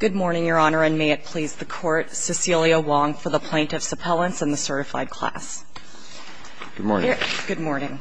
Good morning, Your Honor, and may it please the Court, Cecilia Wong for the Plaintiff's Appellants and the Certified Class. Good morning. Good morning.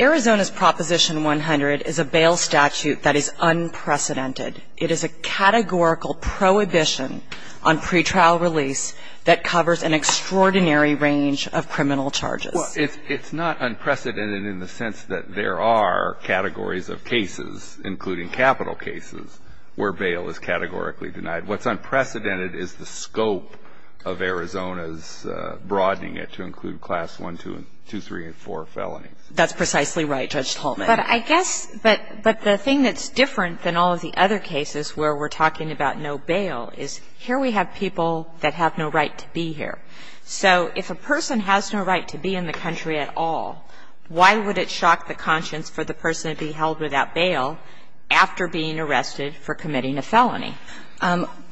Arizona's Proposition 100 is a bail statute that is unprecedented. It is a categorical prohibition on pretrial release that covers an extraordinary range of criminal charges. Well, it's not unprecedented in the sense that there are categories of cases, including capital cases, where bail is categorically denied. What's unprecedented is the scope of Arizona's broadening it to include Class I, II, III, and IV felonies. That's precisely right, Judge Tolman. But I guess the thing that's different than all of the other cases where we're talking about no bail is here we have people that have no right to be here. So if a person has no right to be in the country at all, why would it shock the conscience for the person to be held without bail after being arrested for committing a felony?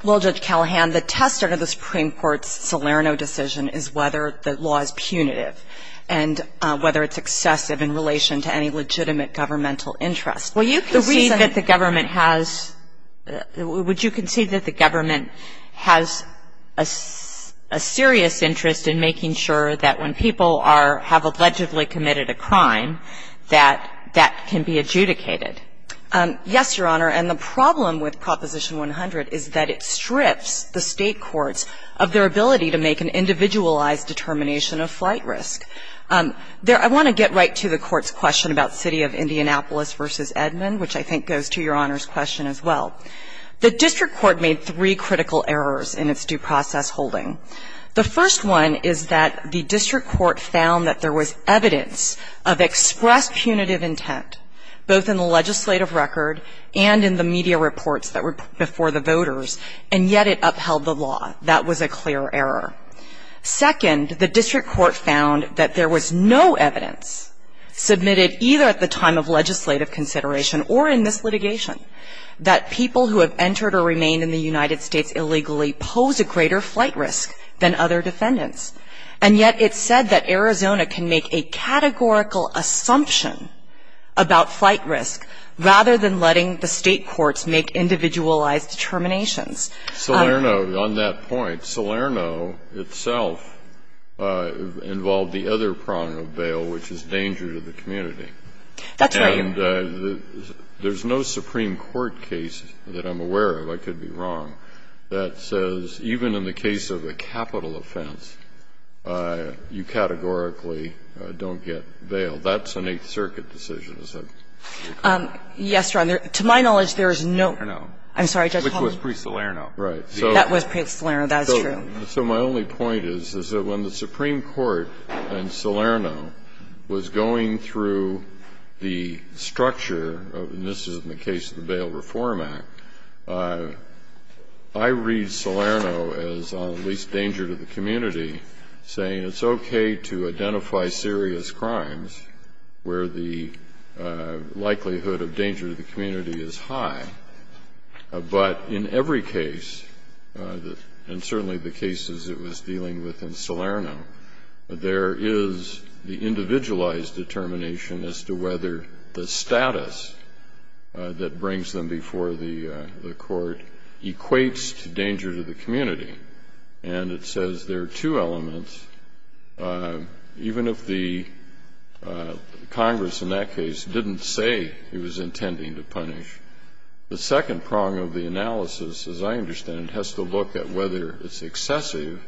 Well, Judge Callahan, the test of the Supreme Court's Salerno decision is whether the law is punitive and whether it's excessive in relation to any legitimate governmental interest. Well, you can see that the government has – would you concede that the government has a serious interest in making sure that when people have allegedly committed a crime that that can be adjudicated? Yes, Your Honor. And the problem with Proposition 100 is that it strips the State courts of their ability to make an individualized determination of flight risk. There – I want to get right to the Court's question about City of Indianapolis v. Edmond, which I think goes to Your Honor's question as well. The district court made three critical errors in its due process holding. The first one is that the district court found that there was evidence of expressed punitive intent, both in the legislative record and in the media reports that were before the voters, and yet it upheld the law. That was a clear error. Second, the district court found that there was no evidence submitted either at the time of legislative consideration or in this litigation that people who have entered or remained in the United States illegally pose a greater flight risk than other defendants, and yet it said that Arizona can make a categorical assumption about flight risk rather than letting the State courts make individualized determinations. Scalia, on that point, Salerno itself involved the other prong of bail, which is danger to the community. That's right. And there's no Supreme Court case that I'm aware of, I could be wrong, that says even in the case of a capital offense, you categorically don't get bail. That's an Eighth Circuit decision, is it? Yes, Your Honor. To my knowledge, there is no – Salerno. I'm sorry, Judge Hall. Which was pre-Salerno. Right. That was pre-Salerno, that's true. So my only point is, is that when the Supreme Court in Salerno was going through the structure of – and this is in the case of the Bail Reform Act – I read Salerno as at least danger to the community, saying it's okay to identify serious crimes where the likelihood of danger to the community is high. But in every case, and certainly the cases it was dealing with in Salerno, there is the individualized determination as to whether the status that brings them before the court equates to danger to the community. And it says there are two elements. Even if the Congress in that case didn't say it was intending to punish, the second prong of the analysis, as I understand it, has to look at whether it's excessive,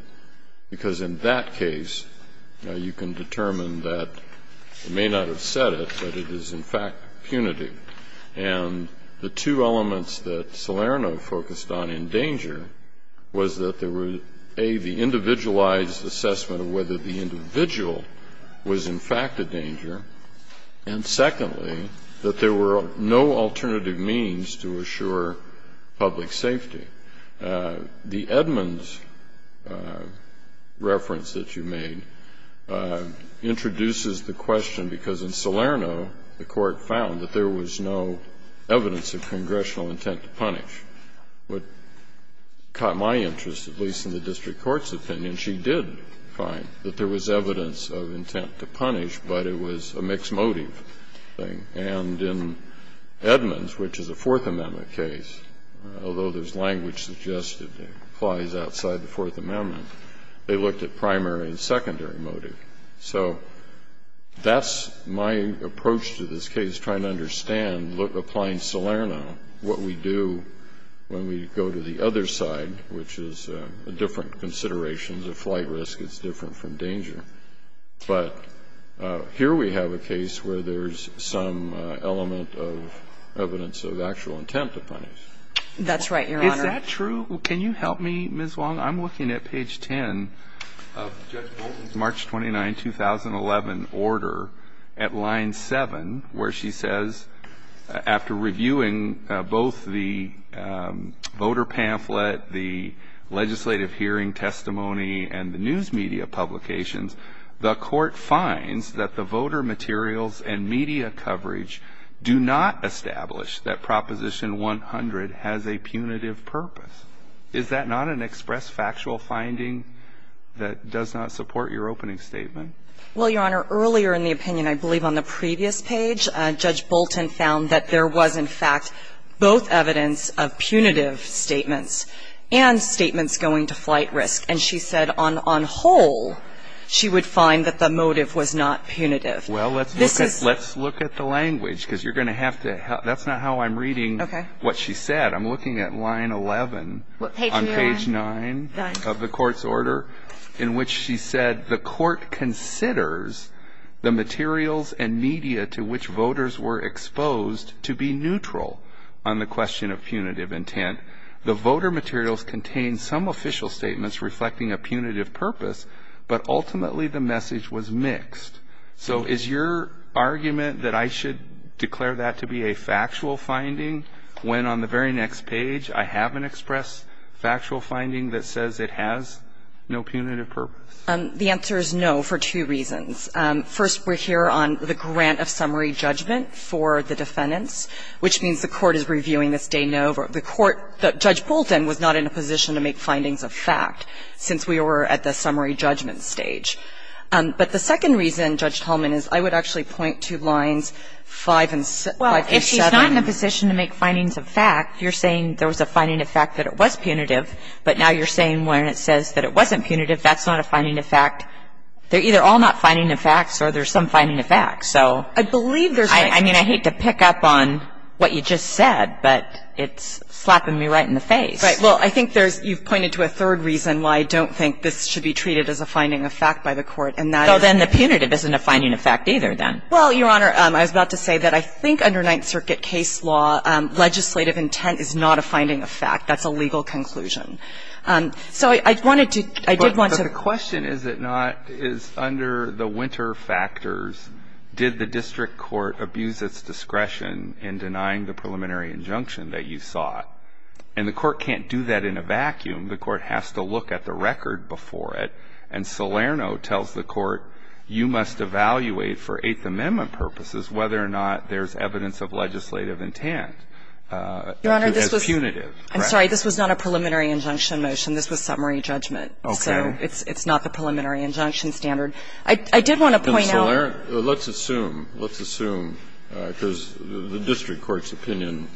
because in that case you can determine that it may not have said it, but it is in fact punitive. And the two elements that Salerno focused on in danger was that there was, A, the individualized assessment of whether the individual was in fact a danger, and secondly, that there were no alternative means to assure public safety. The Edmonds reference that you made introduces the question, because in Salerno the evidence of congressional intent to punish. What caught my interest, at least in the district court's opinion, she did find that there was evidence of intent to punish, but it was a mixed motive thing. And in Edmonds, which is a Fourth Amendment case, although there's language suggested that applies outside the Fourth Amendment, they looked at primary and secondary motive. So that's my approach to this case, trying to understand, applying Salerno, what we do when we go to the other side, which is a different consideration, the flight risk is different from danger. But here we have a case where there's some element of evidence of actual intent to punish. That's right, Your Honor. Is that true? Can you help me, Ms. Wong? I'm looking at page 10 of Judge Bolton's March 29, 2011, order at line 7, where she says, after reviewing both the voter pamphlet, the legislative hearing testimony, and the news media publications, the court finds that the voter materials and media coverage do not establish that Proposition 100 has a punitive purpose. Is that not an express factual finding that does not support your opening statement? Well, Your Honor, earlier in the opinion, I believe on the previous page, Judge Bolton found that there was, in fact, both evidence of punitive statements and statements going to flight risk. And she said on whole, she would find that the motive was not punitive. Well, let's look at the language, because you're going to have to help. That's not how I'm reading what she said. I'm looking at line 11 on page 9 of the court's order, in which she said, the court considers the materials and media to which voters were exposed to be neutral on the question of punitive intent. The voter materials contain some official statements reflecting a punitive purpose, but ultimately the message was mixed. So is your argument that I should declare that to be a factual finding when, on the very next page, I have an express factual finding that says it has no punitive purpose? The answer is no, for two reasons. First, we're here on the grant of summary judgment for the defendants, which means the court is reviewing this de novo. The court that Judge Bolton was not in a position to make findings of fact since we were at the summary judgment stage. But the second reason, Judge Hellman, is I would actually point to lines 5 and 7. Well, if she's not in a position to make findings of fact, you're saying there was a finding of fact that it was punitive, but now you're saying when it says that it wasn't punitive, that's not a finding of fact. They're either all not finding of facts or there's some finding of facts. So I mean, I hate to pick up on what you just said, but it's slapping me right in the face. Right. Well, I think there's you've pointed to a third reason why I don't think this should be treated as a finding of fact by the court, and that is that the punitive isn't a finding of fact either, then. Well, Your Honor, I was about to say that I think under Ninth Circuit case law, legislative intent is not a finding of fact. That's a legal conclusion. So I wanted to, I did want to. But the question, is it not, is under the winter factors, did the district court abuse its discretion in denying the preliminary injunction that you sought? And the court can't do that in a vacuum. The court has to look at the record before it. And Salerno tells the court, you must evaluate for Eighth Amendment purposes whether or not there's evidence of legislative intent as punitive. Your Honor, this was. I'm sorry. This was not a preliminary injunction motion. This was summary judgment. Okay. So it's not the preliminary injunction standard. I did want to point out. Salerno, let's assume, let's assume, because the district court's opinion,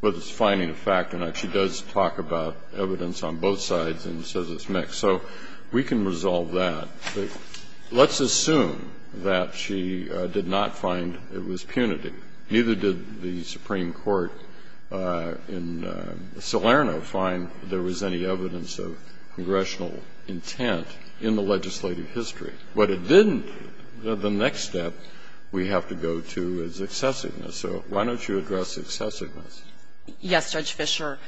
whether it's finding of fact or not, she does talk about evidence on both sides and says it's mixed. So we can resolve that. But let's assume that she did not find it was punitive. Neither did the Supreme Court in Salerno find there was any evidence of congressional intent in the legislative history. But it didn't. The next step we have to go to is excessiveness. So why don't you address excessiveness? Yes, Judge Fischer.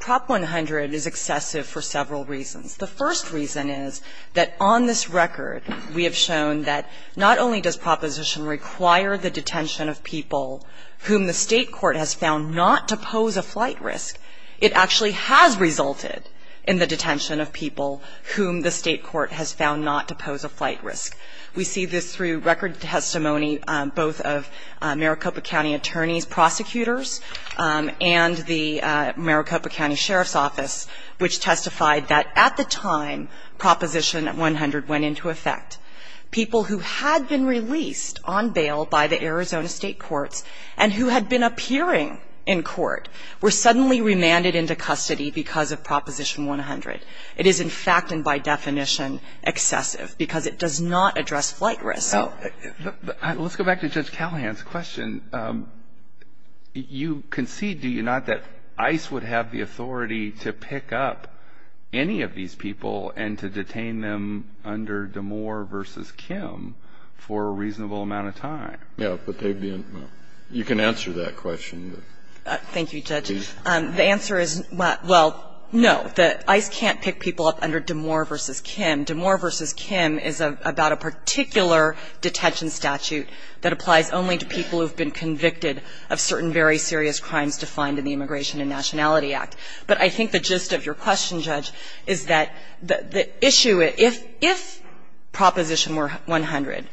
Prop 100 is excessive for several reasons. The first reason is that on this record we have shown that not only does Proposition require the detention of people whom the State court has found not to pose a flight risk, it actually has resulted in the detention of people whom the State court has found not to pose a flight risk. We see this through record testimony both of Maricopa County attorneys, prosecutors, and the Maricopa County Sheriff's Office, which testified that at the time Proposition 100 went into effect, people who had been released on bail by the Arizona State courts and who had been appearing in court were suddenly remanded into custody because of Proposition 100. It is in fact and by definition excessive because it does not address flight risk. Now, let's go back to Judge Callahan's question. You concede, do you not, that ICE would have the authority to pick up any of these people and to detain them under Damore v. Kim for a reasonable amount of time? Yes, but they didn't. You can answer that question. Thank you, Judge. The answer is, well, no. ICE can't pick people up under Damore v. Kim. Damore v. Kim is about a particular detention statute that applies only to people who have been convicted of certain very serious crimes defined in the Immigration and Nationality Act. But I think the gist of your question, Judge, is that the issue, if Proposition 100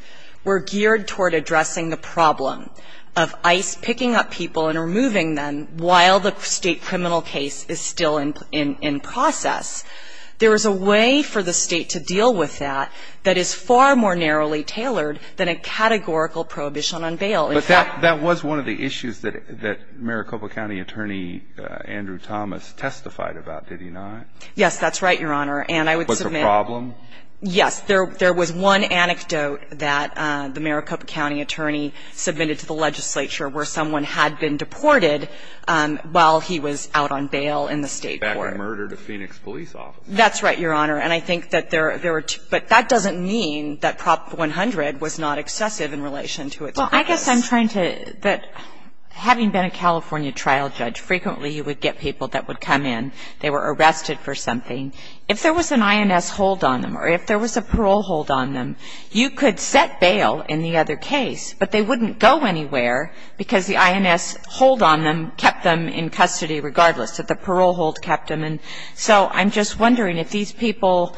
were geared toward addressing the problem of ICE picking up people and removing them while the State criminal case is still in process, there is a way for the State to deal with that that is far more narrowly tailored than a categorical prohibition on bail. But that was one of the issues that Maricopa County Attorney Andrew Thomas testified about, did he not? Yes, that's right, Your Honor. And I would submit — Was there a problem? Yes. There was one anecdote that the Maricopa County Attorney submitted to the legislature where someone had been deported while he was out on bail in the State court. Back and murdered a Phoenix police officer. That's right, Your Honor. And I think that there were two. But that doesn't mean that Prop. 100 was not excessive in relation to its purpose. Well, I guess I'm trying to — that having been a California trial judge, frequently you would get people that would come in. They were arrested for something. If there was an INS hold on them or if there was a parole hold on them, you could set bail in the other case, but they wouldn't go anywhere because the INS hold on them kept them in custody regardless, that the parole hold kept them. And so I'm just wondering if these people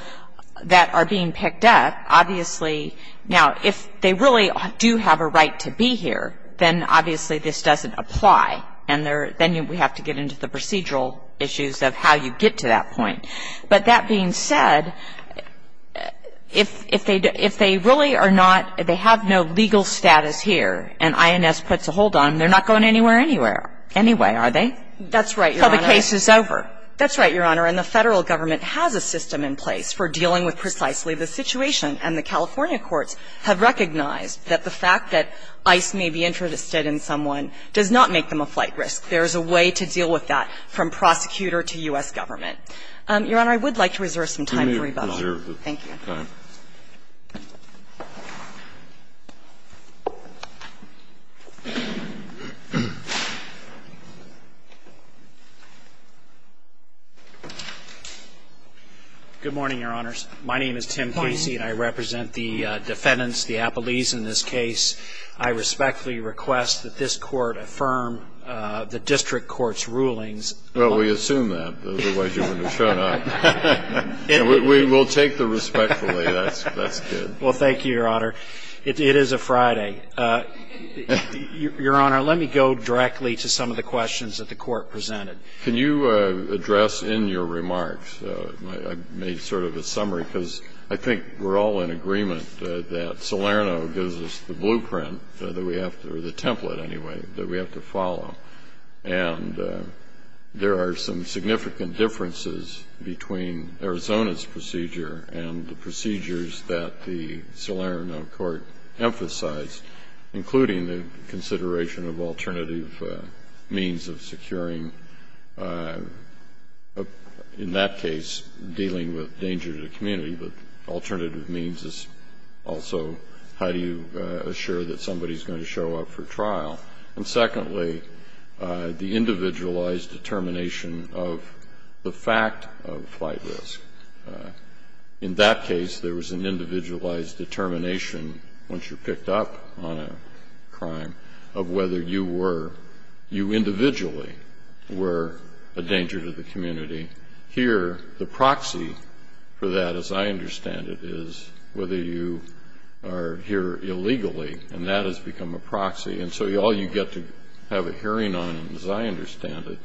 that are being picked up, obviously now if they really do have a right to be here, then obviously this doesn't apply and then we have to get into the procedural issues of how you get to that point. But that being said, if they really are not — if they have no legal status here and INS puts a hold on them, they're not going anywhere anyway, are they? That's right, Your Honor. So the case is over. That's right, Your Honor. And the Federal government has a system in place for dealing with precisely the situation, and the California courts have recognized that the fact that ICE may be interested in someone does not make them a flight risk. There is a way to deal with that from prosecutor to U.S. government. Your Honor, I would like to reserve some time for rebuttal. Thank you. Okay. Good morning, Your Honors. My name is Tim Casey and I represent the defendants, the appellees in this case. I respectfully request that this Court affirm the district court's rulings. Well, we assume that, otherwise you wouldn't have shown up. We will take the respectfully. That's good. Well, thank you, Your Honor. It is a Friday. Your Honor, let me go directly to some of the questions that the Court presented. Can you address in your remarks — I made sort of a summary because I think we're all in agreement that Salerno gives us the blueprint that we have to — or the template, anyway, that we have to follow. And there are some significant differences between Arizona's procedure and the procedures that the Salerno Court emphasized, including the consideration of alternative means of securing — in that case, dealing with danger to the community, but alternative means is also how do you assure that somebody is going to show up for trial. And secondly, the individualized determination of the fact of flight risk. In that case, there was an individualized determination, once you're picked up on a crime, of whether you were — you individually were a danger to the community. Here, the proxy for that, as I understand it, is whether you are here illegally, and that has become a proxy, and so all you get to have a hearing on, as I understand it,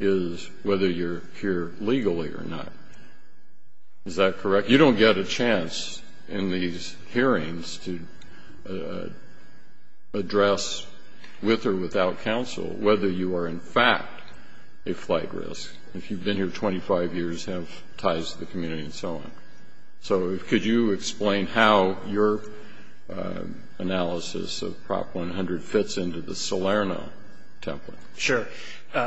is whether you're here legally or not. Is that correct? You don't get a chance in these hearings to address with or without counsel whether you are, in fact, a flight risk, if you've been here 25 years, have ties to the community and so on. So could you explain how your analysis of Prop 100 fits into the Salerno template? Sure.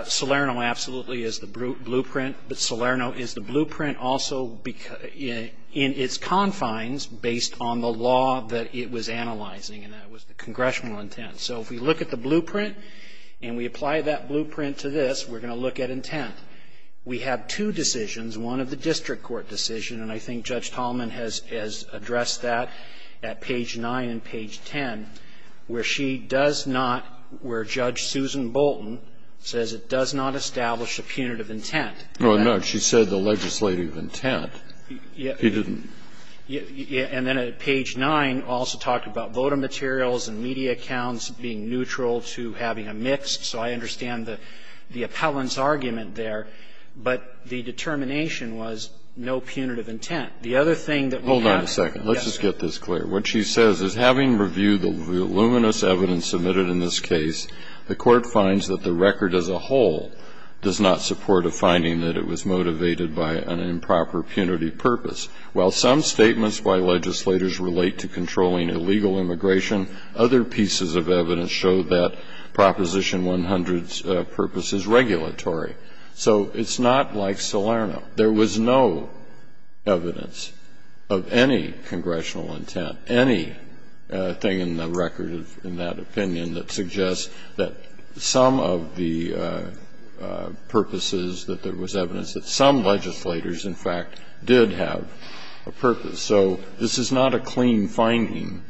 Salerno absolutely is the blueprint, but Salerno is the blueprint also in its confines based on the law that it was analyzing, and that was the congressional intent. So if we look at the blueprint and we apply that blueprint to this, we're going to look at intent. We have two decisions, one of the district court decision, and I think Judge Tallman has addressed that at page 9 and page 10, where she does not — where Judge Susan Bolton says it does not establish a punitive intent. Oh, no. She said the legislative intent. Yeah. She didn't. Yeah. And then at page 9 also talked about voter materials and media accounts being neutral to having a mixed. So I understand the appellant's argument there, but the determination was no punitive intent. The other thing that we have here — Hold on a second. Let's just get this clear. What she says is, having reviewed the voluminous evidence submitted in this case, the Court finds that the record as a whole does not support a finding that it was motivated by an improper punity purpose. While some statements by legislators relate to controlling illegal immigration, other pieces of evidence show that Proposition 100's purpose is regulatory. So it's not like Salerno. There was no evidence of any congressional intent, anything in the record in that opinion that suggests that some of the purposes, that there was evidence that some of the purposes, that there was a purpose. So this is not a clean finding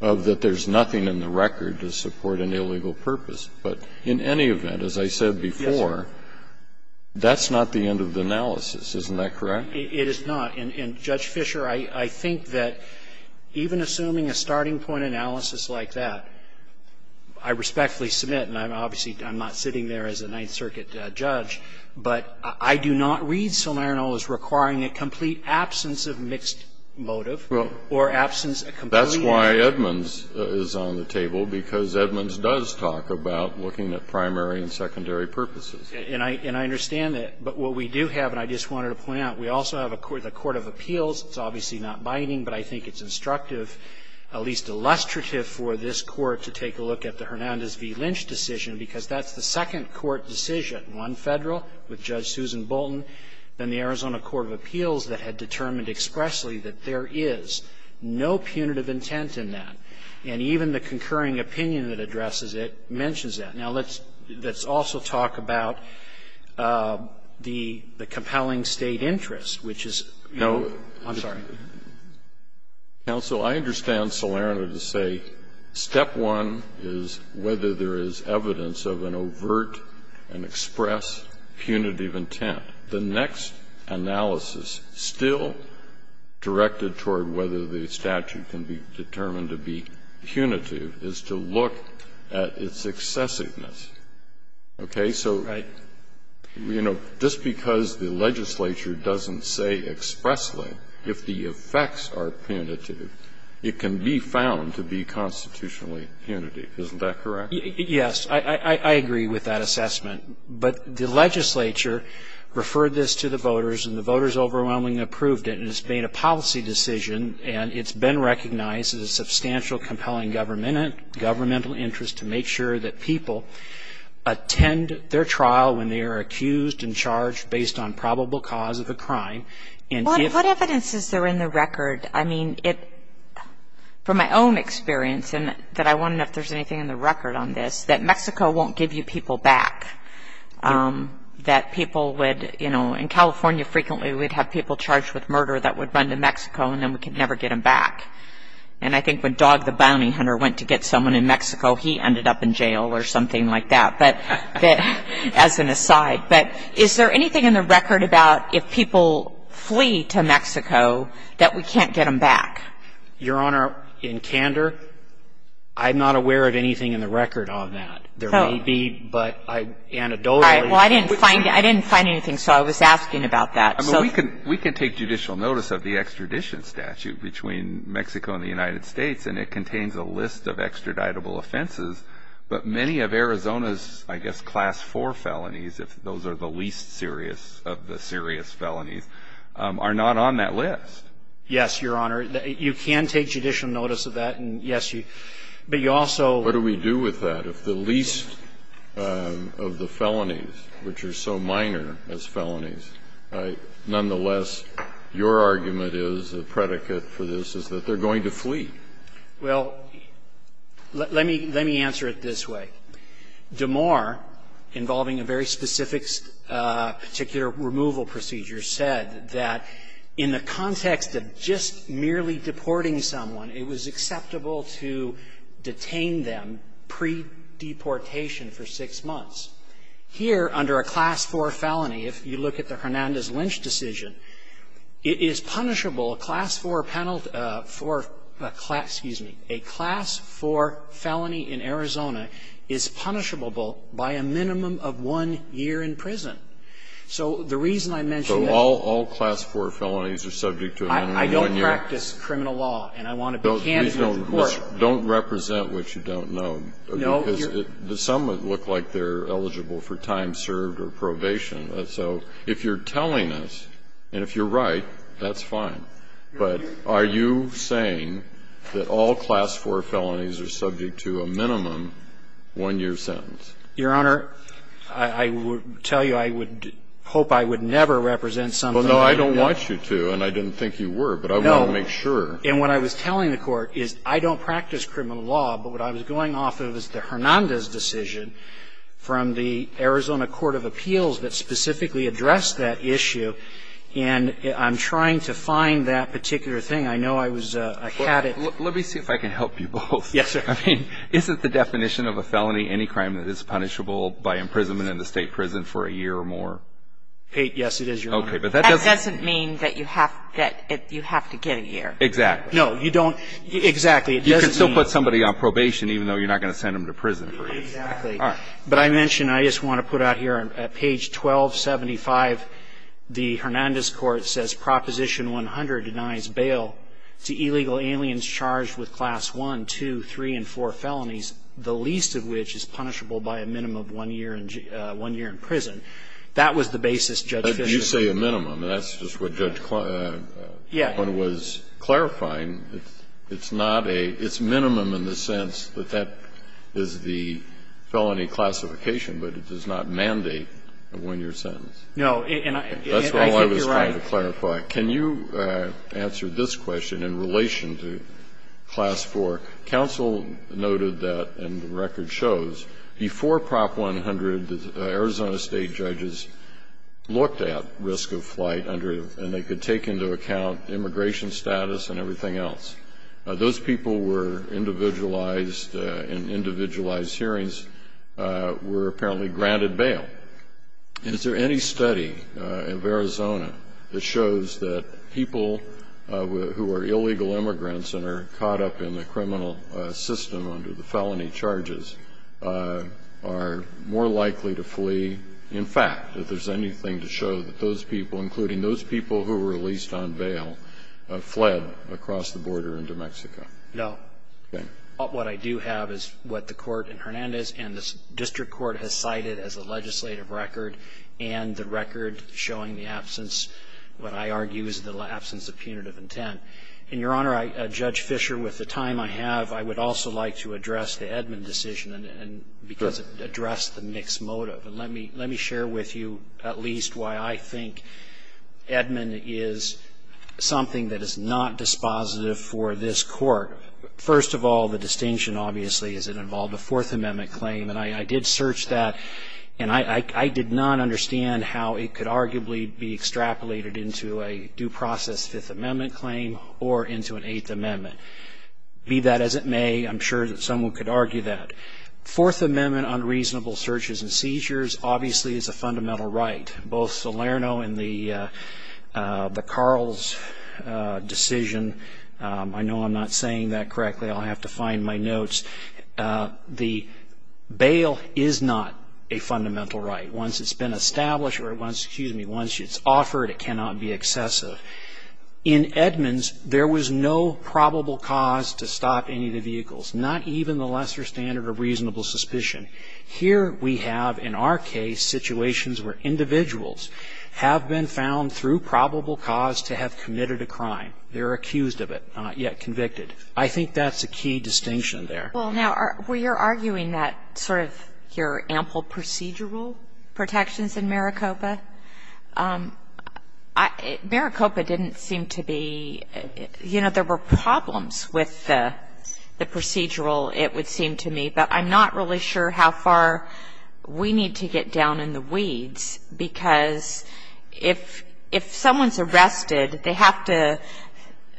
of that there's nothing in the record to support an illegal purpose. But in any event, as I said before, that's not the end of the analysis. Isn't that correct? It is not. And, Judge Fischer, I think that even assuming a starting point analysis like that, I respectfully submit, and I'm obviously, I'm not sitting there as a Ninth Circuit judge, but I do not read Salerno as requiring a complete absence of mixed motive or absence of complete motive. That's why Edmonds is on the table, because Edmonds does talk about looking at primary and secondary purposes. And I understand that. But what we do have, and I just wanted to point out, we also have the court of appeals. It's obviously not binding, but I think it's instructive, at least illustrative for this Court, to take a look at the Hernandez v. Lynch decision, because that's the second court decision, one Federal, with Judge Susan Bolton, then the Arizona court of appeals that had determined expressly that there is no punitive intent in that. And even the concurring opinion that addresses it mentions that. Now, let's also talk about the compelling State interest, which is, I'm sorry. Counsel, I understand Salerno to say step one is whether there is evidence of an overt and express punitive intent. The next analysis still directed toward whether the statute can be determined to be punitive is to look at its excessiveness. Okay? So, you know, just because the legislature doesn't say expressly, if the State effects are punitive, it can be found to be constitutionally punitive. Isn't that correct? Yes. I agree with that assessment. But the legislature referred this to the voters, and the voters overwhelmingly approved it. And it's been a policy decision, and it's been recognized as a substantial compelling governmental interest to make sure that people attend their trial when they are accused and charged based on probable cause of a crime. What evidence is there in the record? I mean, from my own experience, and that I wonder if there's anything in the record on this, that Mexico won't give you people back. That people would, you know, in California frequently we'd have people charged with murder that would run to Mexico, and then we could never get them back. And I think when Dog the bounty hunter went to get someone in Mexico, he ended up in jail or something like that, as an aside. But is there anything in the record about if people flee to Mexico that we can't get them back? Your Honor, in candor, I'm not aware of anything in the record on that. There may be, but anecdotally. Well, I didn't find anything, so I was asking about that. We can take judicial notice of the extradition statute between Mexico and the United States, and it contains a list of extraditable offenses. But many of Arizona's, I guess, class 4 felonies, if those are the least serious of the serious felonies, are not on that list. Yes, Your Honor. You can take judicial notice of that, and yes, but you also. What do we do with that? If the least of the felonies, which are so minor as felonies, nonetheless, your argument is, a predicate for this, is that they're going to flee. Well, let me answer it this way. Damore, involving a very specific particular removal procedure, said that in the context of just merely deporting someone, it was acceptable to detain them pre-deportation for six months. Here, under a class 4 felony, if you look at the Hernandez-Lynch decision, it is punishable a class 4 penalty for a class, excuse me, a class 4 felony in Arizona is punishable by a minimum of one year in prison. So the reason I mention that. So all class 4 felonies are subject to a minimum of one year? I don't practice criminal law, and I want to be candid with the Court. Don't represent what you don't know. No. Because some look like they're eligible for time served or probation. So if you're telling us, and if you're right, that's fine. But are you saying that all class 4 felonies are subject to a minimum one year sentence? Your Honor, I would tell you I would hope I would never represent something that you don't know. Well, no, I don't want you to, and I didn't think you were, but I want to make sure. No. And what I was telling the Court is I don't practice criminal law, but what I was going off of is the Hernandez decision from the Arizona Court of Appeals that specifically addressed that issue, and I'm trying to find that particular thing. I know I was, I had it. Let me see if I can help you both. Yes, sir. I mean, isn't the definition of a felony any crime that is punishable by imprisonment in the state prison for a year or more? Yes, it is, Your Honor. Okay, but that doesn't. That doesn't mean that you have to get a year. Exactly. No, you don't. Exactly, it doesn't mean. You can still put somebody on probation even though you're not going to send them to prison. Exactly. All right. But I mentioned, I just want to put out here on page 1275, the Hernandez Court says Proposition 100 denies bail to illegal aliens charged with Class I, II, III, and IV felonies, the least of which is punishable by a minimum of one year in prison. That was the basis Judge Fischer. You say a minimum. That's just what Judge Kline was clarifying. It's not a – it's minimum in the sense that that is the felony classification, but it does not mandate a one-year sentence. No, and I think you're right. That's all I was trying to clarify. Can you answer this question in relation to Class IV? Counsel noted that, and the record shows, before Prop 100, the Arizona State judges looked at risk of flight under – and they could take into account immigration status and everything else. Those people were individualized, and individualized hearings were apparently granted bail. Is there any study of Arizona that shows that people who are illegal immigrants and are caught up in the criminal system under the felony charges are more likely to flee? In fact, if there's anything to show that those people, including those people who were released on bail, fled across the border into Mexico? No. Okay. What I do have is what the court in Hernandez and the district court has cited as a legislative record and the record showing the absence – what I argue is the absence of punitive intent. And, Your Honor, Judge Fischer, with the time I have, I would also like to address the Edmund decision because it addressed the mixed motive. And let me share with you at least why I think Edmund is something that is not dispositive for this court. First of all, the distinction, obviously, is it involved a Fourth Amendment claim. And I did search that, and I did not understand how it could arguably be extrapolated into a due process Fifth Amendment claim or into an Eighth Amendment. Be that as it may, I'm sure that someone could argue that. Fourth Amendment unreasonable searches and seizures, obviously, is a fundamental right. Both Salerno and the Carl's decision – I know I'm not saying that correctly. I'll have to find my notes. The bail is not a fundamental right. Once it's been established or once – excuse me – once it's offered, it cannot be excessive. In Edmund's, there was no probable cause to stop any of the vehicles, not even the lesser standard of reasonable suspicion. Here we have, in our case, situations where individuals have been found through probable cause to have committed a crime. They're accused of it, not yet convicted. I think that's a key distinction there. Well, now, where you're arguing that sort of your ample procedural protections in Maricopa, Maricopa didn't seem to be – you know, there were problems with the procedural, it would seem to me. But I'm not really sure how far we need to get down in the weeds. Because if someone's arrested, they have to –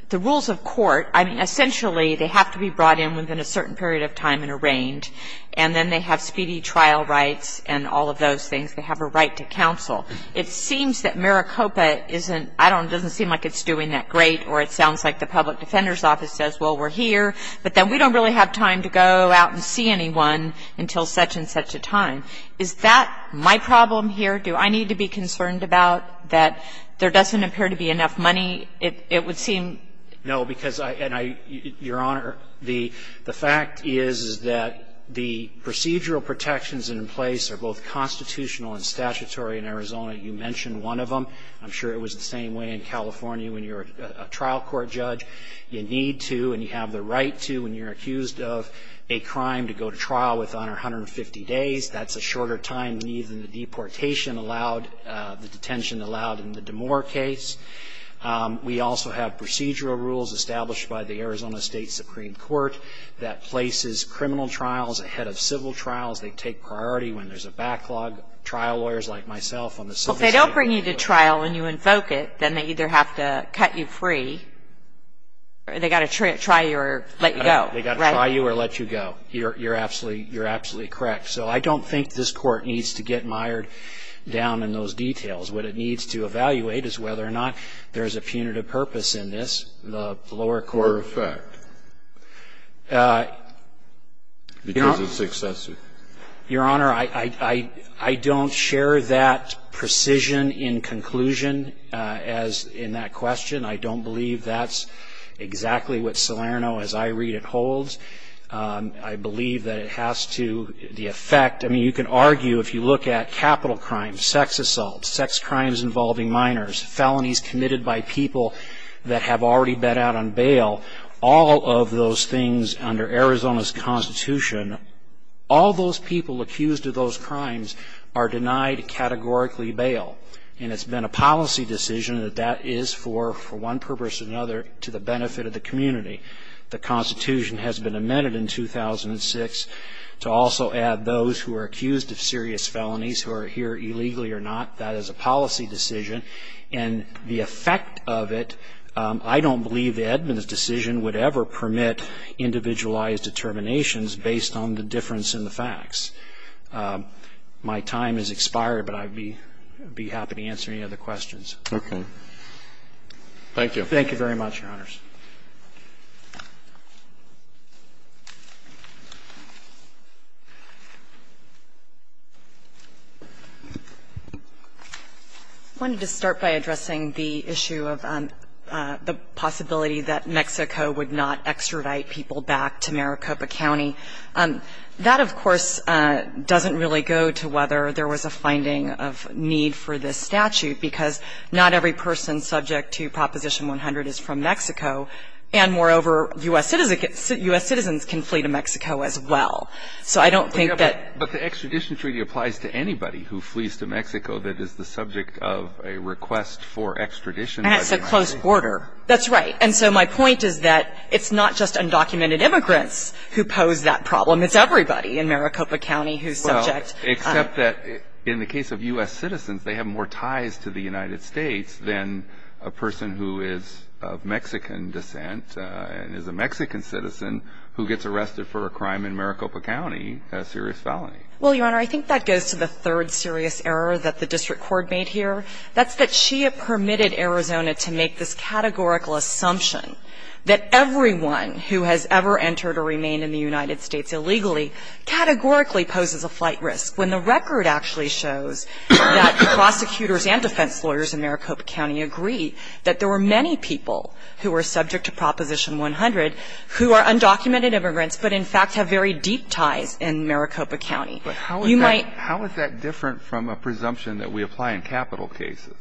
the rules of court – I mean, essentially, they have to be brought in within a certain period of time and arraigned. And then they have speedy trial rights and all of those things. They have a right to counsel. It seems that Maricopa isn't – I don't know, it doesn't seem like it's doing that great, or it sounds like the public defender's office says, well, we're here, but then we don't really have time to go out and see anyone until such and such a time. Is that my problem here? Do I need to be concerned about that there doesn't appear to be enough money? It would seem – No, because I – and I – Your Honor, the fact is, is that the procedural protections in place are both constitutional and statutory in Arizona. You mentioned one of them. I'm sure it was the same way in California when you're a trial court judge. You need to and you have the right to, when you're accused of a crime, to go to trial within 150 days. That's a shorter time than even the deportation allowed – the detention allowed in the DeMoor case. We also have procedural rules established by the Arizona State Supreme Court that places criminal trials ahead of civil trials. They take priority when there's a backlog. Trial lawyers like myself on the civil – Well, if they don't bring you to trial when you invoke it, then they either have to cut you free or they've got to try you or let you go, right? They've got to try you or let you go. You're absolutely – you're absolutely correct. So I don't think this Court needs to get mired down in those details. What it needs to evaluate is whether or not there's a punitive purpose in this, the lower court – Or effect, because it's excessive. Your Honor, I don't share that precision in conclusion as in that question. I don't believe that's exactly what Salerno, as I read it, holds. I believe that it has to – the effect – I mean, you can argue, if you look at capital crimes, sex assaults, sex crimes involving minors, felonies committed by people that have already been out on bail, all of those things under Arizona's Constitution, all those people accused of those crimes are denied categorically bail. And it's been a policy decision that that is for one purpose or another to the benefit of the community. The Constitution has been amended in 2006 to also add those who are accused of serious felonies who are here illegally or not, that is a policy decision. And the effect of it, I don't believe the Edmunds decision would ever permit individualized determinations based on the difference in the facts. My time has expired, but I'd be happy to answer any other questions. Okay. Thank you. Thank you very much, Your Honors. I wanted to start by addressing the issue of the possibility that Mexico would not extradite people back to Maricopa County. That, of course, doesn't really go to whether there was a finding of need for this statute, because not every person subject to Proposition 100 is from Mexico, and moreover, U.S. citizens can flee to Mexico as well. So I don't think that — But the extradition treaty applies to anybody who flees to Mexico that is the subject of a request for extradition. That's a close border. That's right. And so my point is that it's not just undocumented immigrants who pose that problem. It's everybody in Maricopa County who's subject. Well, except that in the case of U.S. citizens, they have more ties to the United States than a person who is of Mexican descent and is a Mexican citizen who gets arrested for a crime in Maricopa County, a serious felony. Well, Your Honor, I think that goes to the third serious error that the district court made here. That's that she permitted Arizona to make this categorical assumption that everyone who has ever entered or remained in the United States illegally categorically poses a flight risk, when the record actually shows that prosecutors and defense lawyers in Maricopa County agree that there were many people who were subject to Proposition 100 who are undocumented immigrants, but in fact have very deep ties in Maricopa County. But how is that different from a presumption that we apply in capital cases,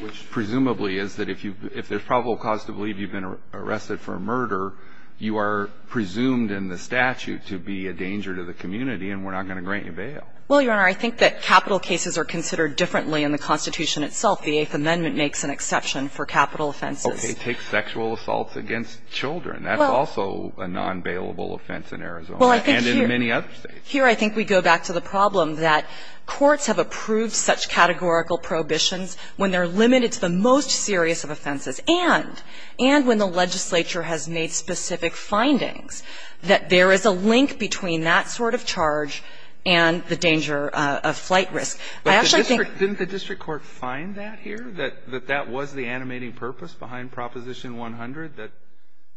which presumably is that if there's probable cause to believe you've been arrested for a murder, you are presumed in the statute to be a danger to the community and we're not going to grant you bail? Well, Your Honor, I think that capital cases are considered differently in the Constitution itself. The Eighth Amendment makes an exception for capital offenses. Okay. Take sexual assaults against children. That's also a non-bailable offense in Arizona and in many other states. Here I think we go back to the problem that courts have approved such categorical prohibitions when they're limited to the most serious of offenses and when the legislature has made specific findings that there is a link between that sort of charge and the danger of flight risk. Didn't the district court find that here, that that was the animating purpose behind Proposition 100, that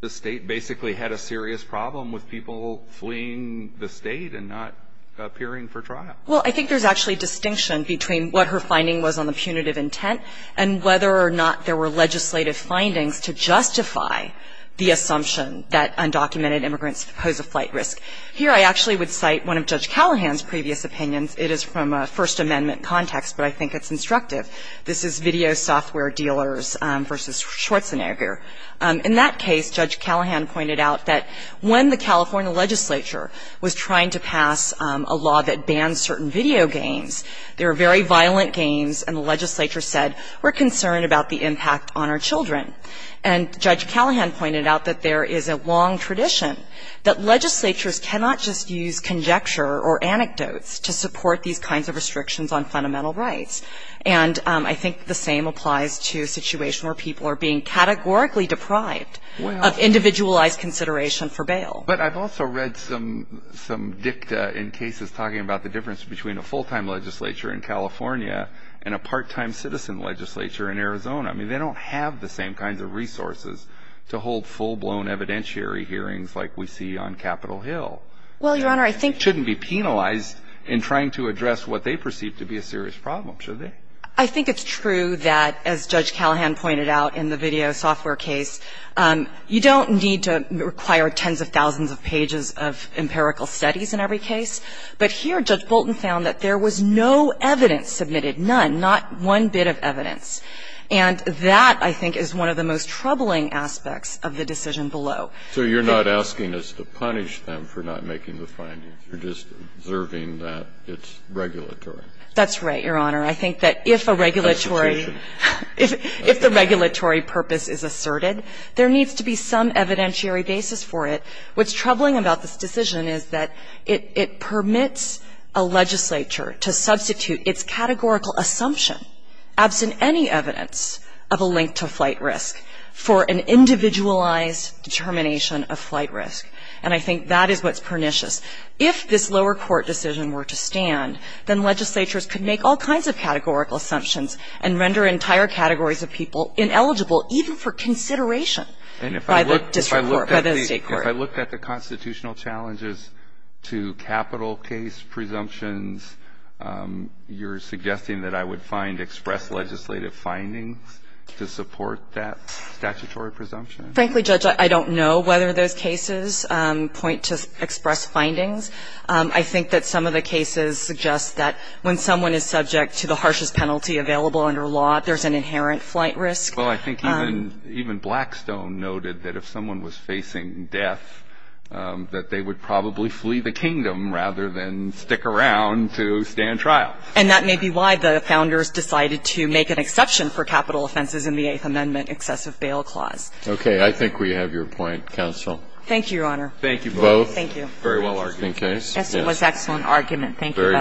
the state basically had a serious problem with people fleeing the state and not appearing for trial? Well, I think there's actually distinction between what her finding was on the punitive intent and whether or not there were legislative findings to justify the assumption that undocumented immigrants pose a flight risk. Here I actually would cite one of Judge Callahan's previous opinions. It is from a First Amendment context, but I think it's instructive. This is Video Software Dealers v. Schwarzenegger. In that case, Judge Callahan pointed out that when the California legislature was trying to pass a law that banned certain video games, they were very violent games and the legislature said, we're concerned about the impact on our children. And Judge Callahan pointed out that there is a long tradition that legislatures cannot just use conjecture or anecdotes to support these kinds of restrictions on fundamental rights. And I think the same applies to a situation where people are being categorically deprived of individualized consideration for bail. But I've also read some dicta in cases talking about the difference between a full-time legislature in California and a part-time citizen legislature in Arizona. I mean, they don't have the same kinds of resources to hold full-blown evidentiary hearings like we see on Capitol Hill. Well, Your Honor, I think you're right. And it shouldn't be penalized in trying to address what they perceive to be a serious problem, should it? I think it's true that, as Judge Callahan pointed out in the video software case, you don't need to require tens of thousands of pages of empirical studies in every case. But here, Judge Bolton found that there was no evidence submitted, none, not one bit of evidence. And that, I think, is one of the most troubling aspects of the decision below. So you're not asking us to punish them for not making the findings. You're just observing that it's regulatory. That's right, Your Honor. I think that if a regulatory – if the regulatory purpose is asserted, there needs to be some evidentiary basis for it. What's troubling about this decision is that it permits a legislature to substitute its categorical assumption, absent any evidence of a link to flight risk, for an individualized determination of flight risk. And I think that is what's pernicious. If this lower court decision were to stand, then legislatures could make all kinds of categorical assumptions and render entire categories of people ineligible even for consideration by the district court, by the state court. And if I looked at the constitutional challenges to capital case presumptions, you're suggesting that I would find express legislative findings to support that statutory presumption? Frankly, Judge, I don't know whether those cases point to express findings. I think that some of the cases suggest that when someone is subject to the harshest penalty available under law, there's an inherent flight risk. Well, I think even Blackstone noted that if someone was facing death, that they would probably flee the kingdom rather than stick around to stand trial. And that may be why the founders decided to make an exception for capital offenses in the Eighth Amendment excessive bail clause. Okay. I think we have your point, counsel. Thank you, Your Honor. Thank you both. Thank you. Very well argued. Yes, it was an excellent argument. Thank you both.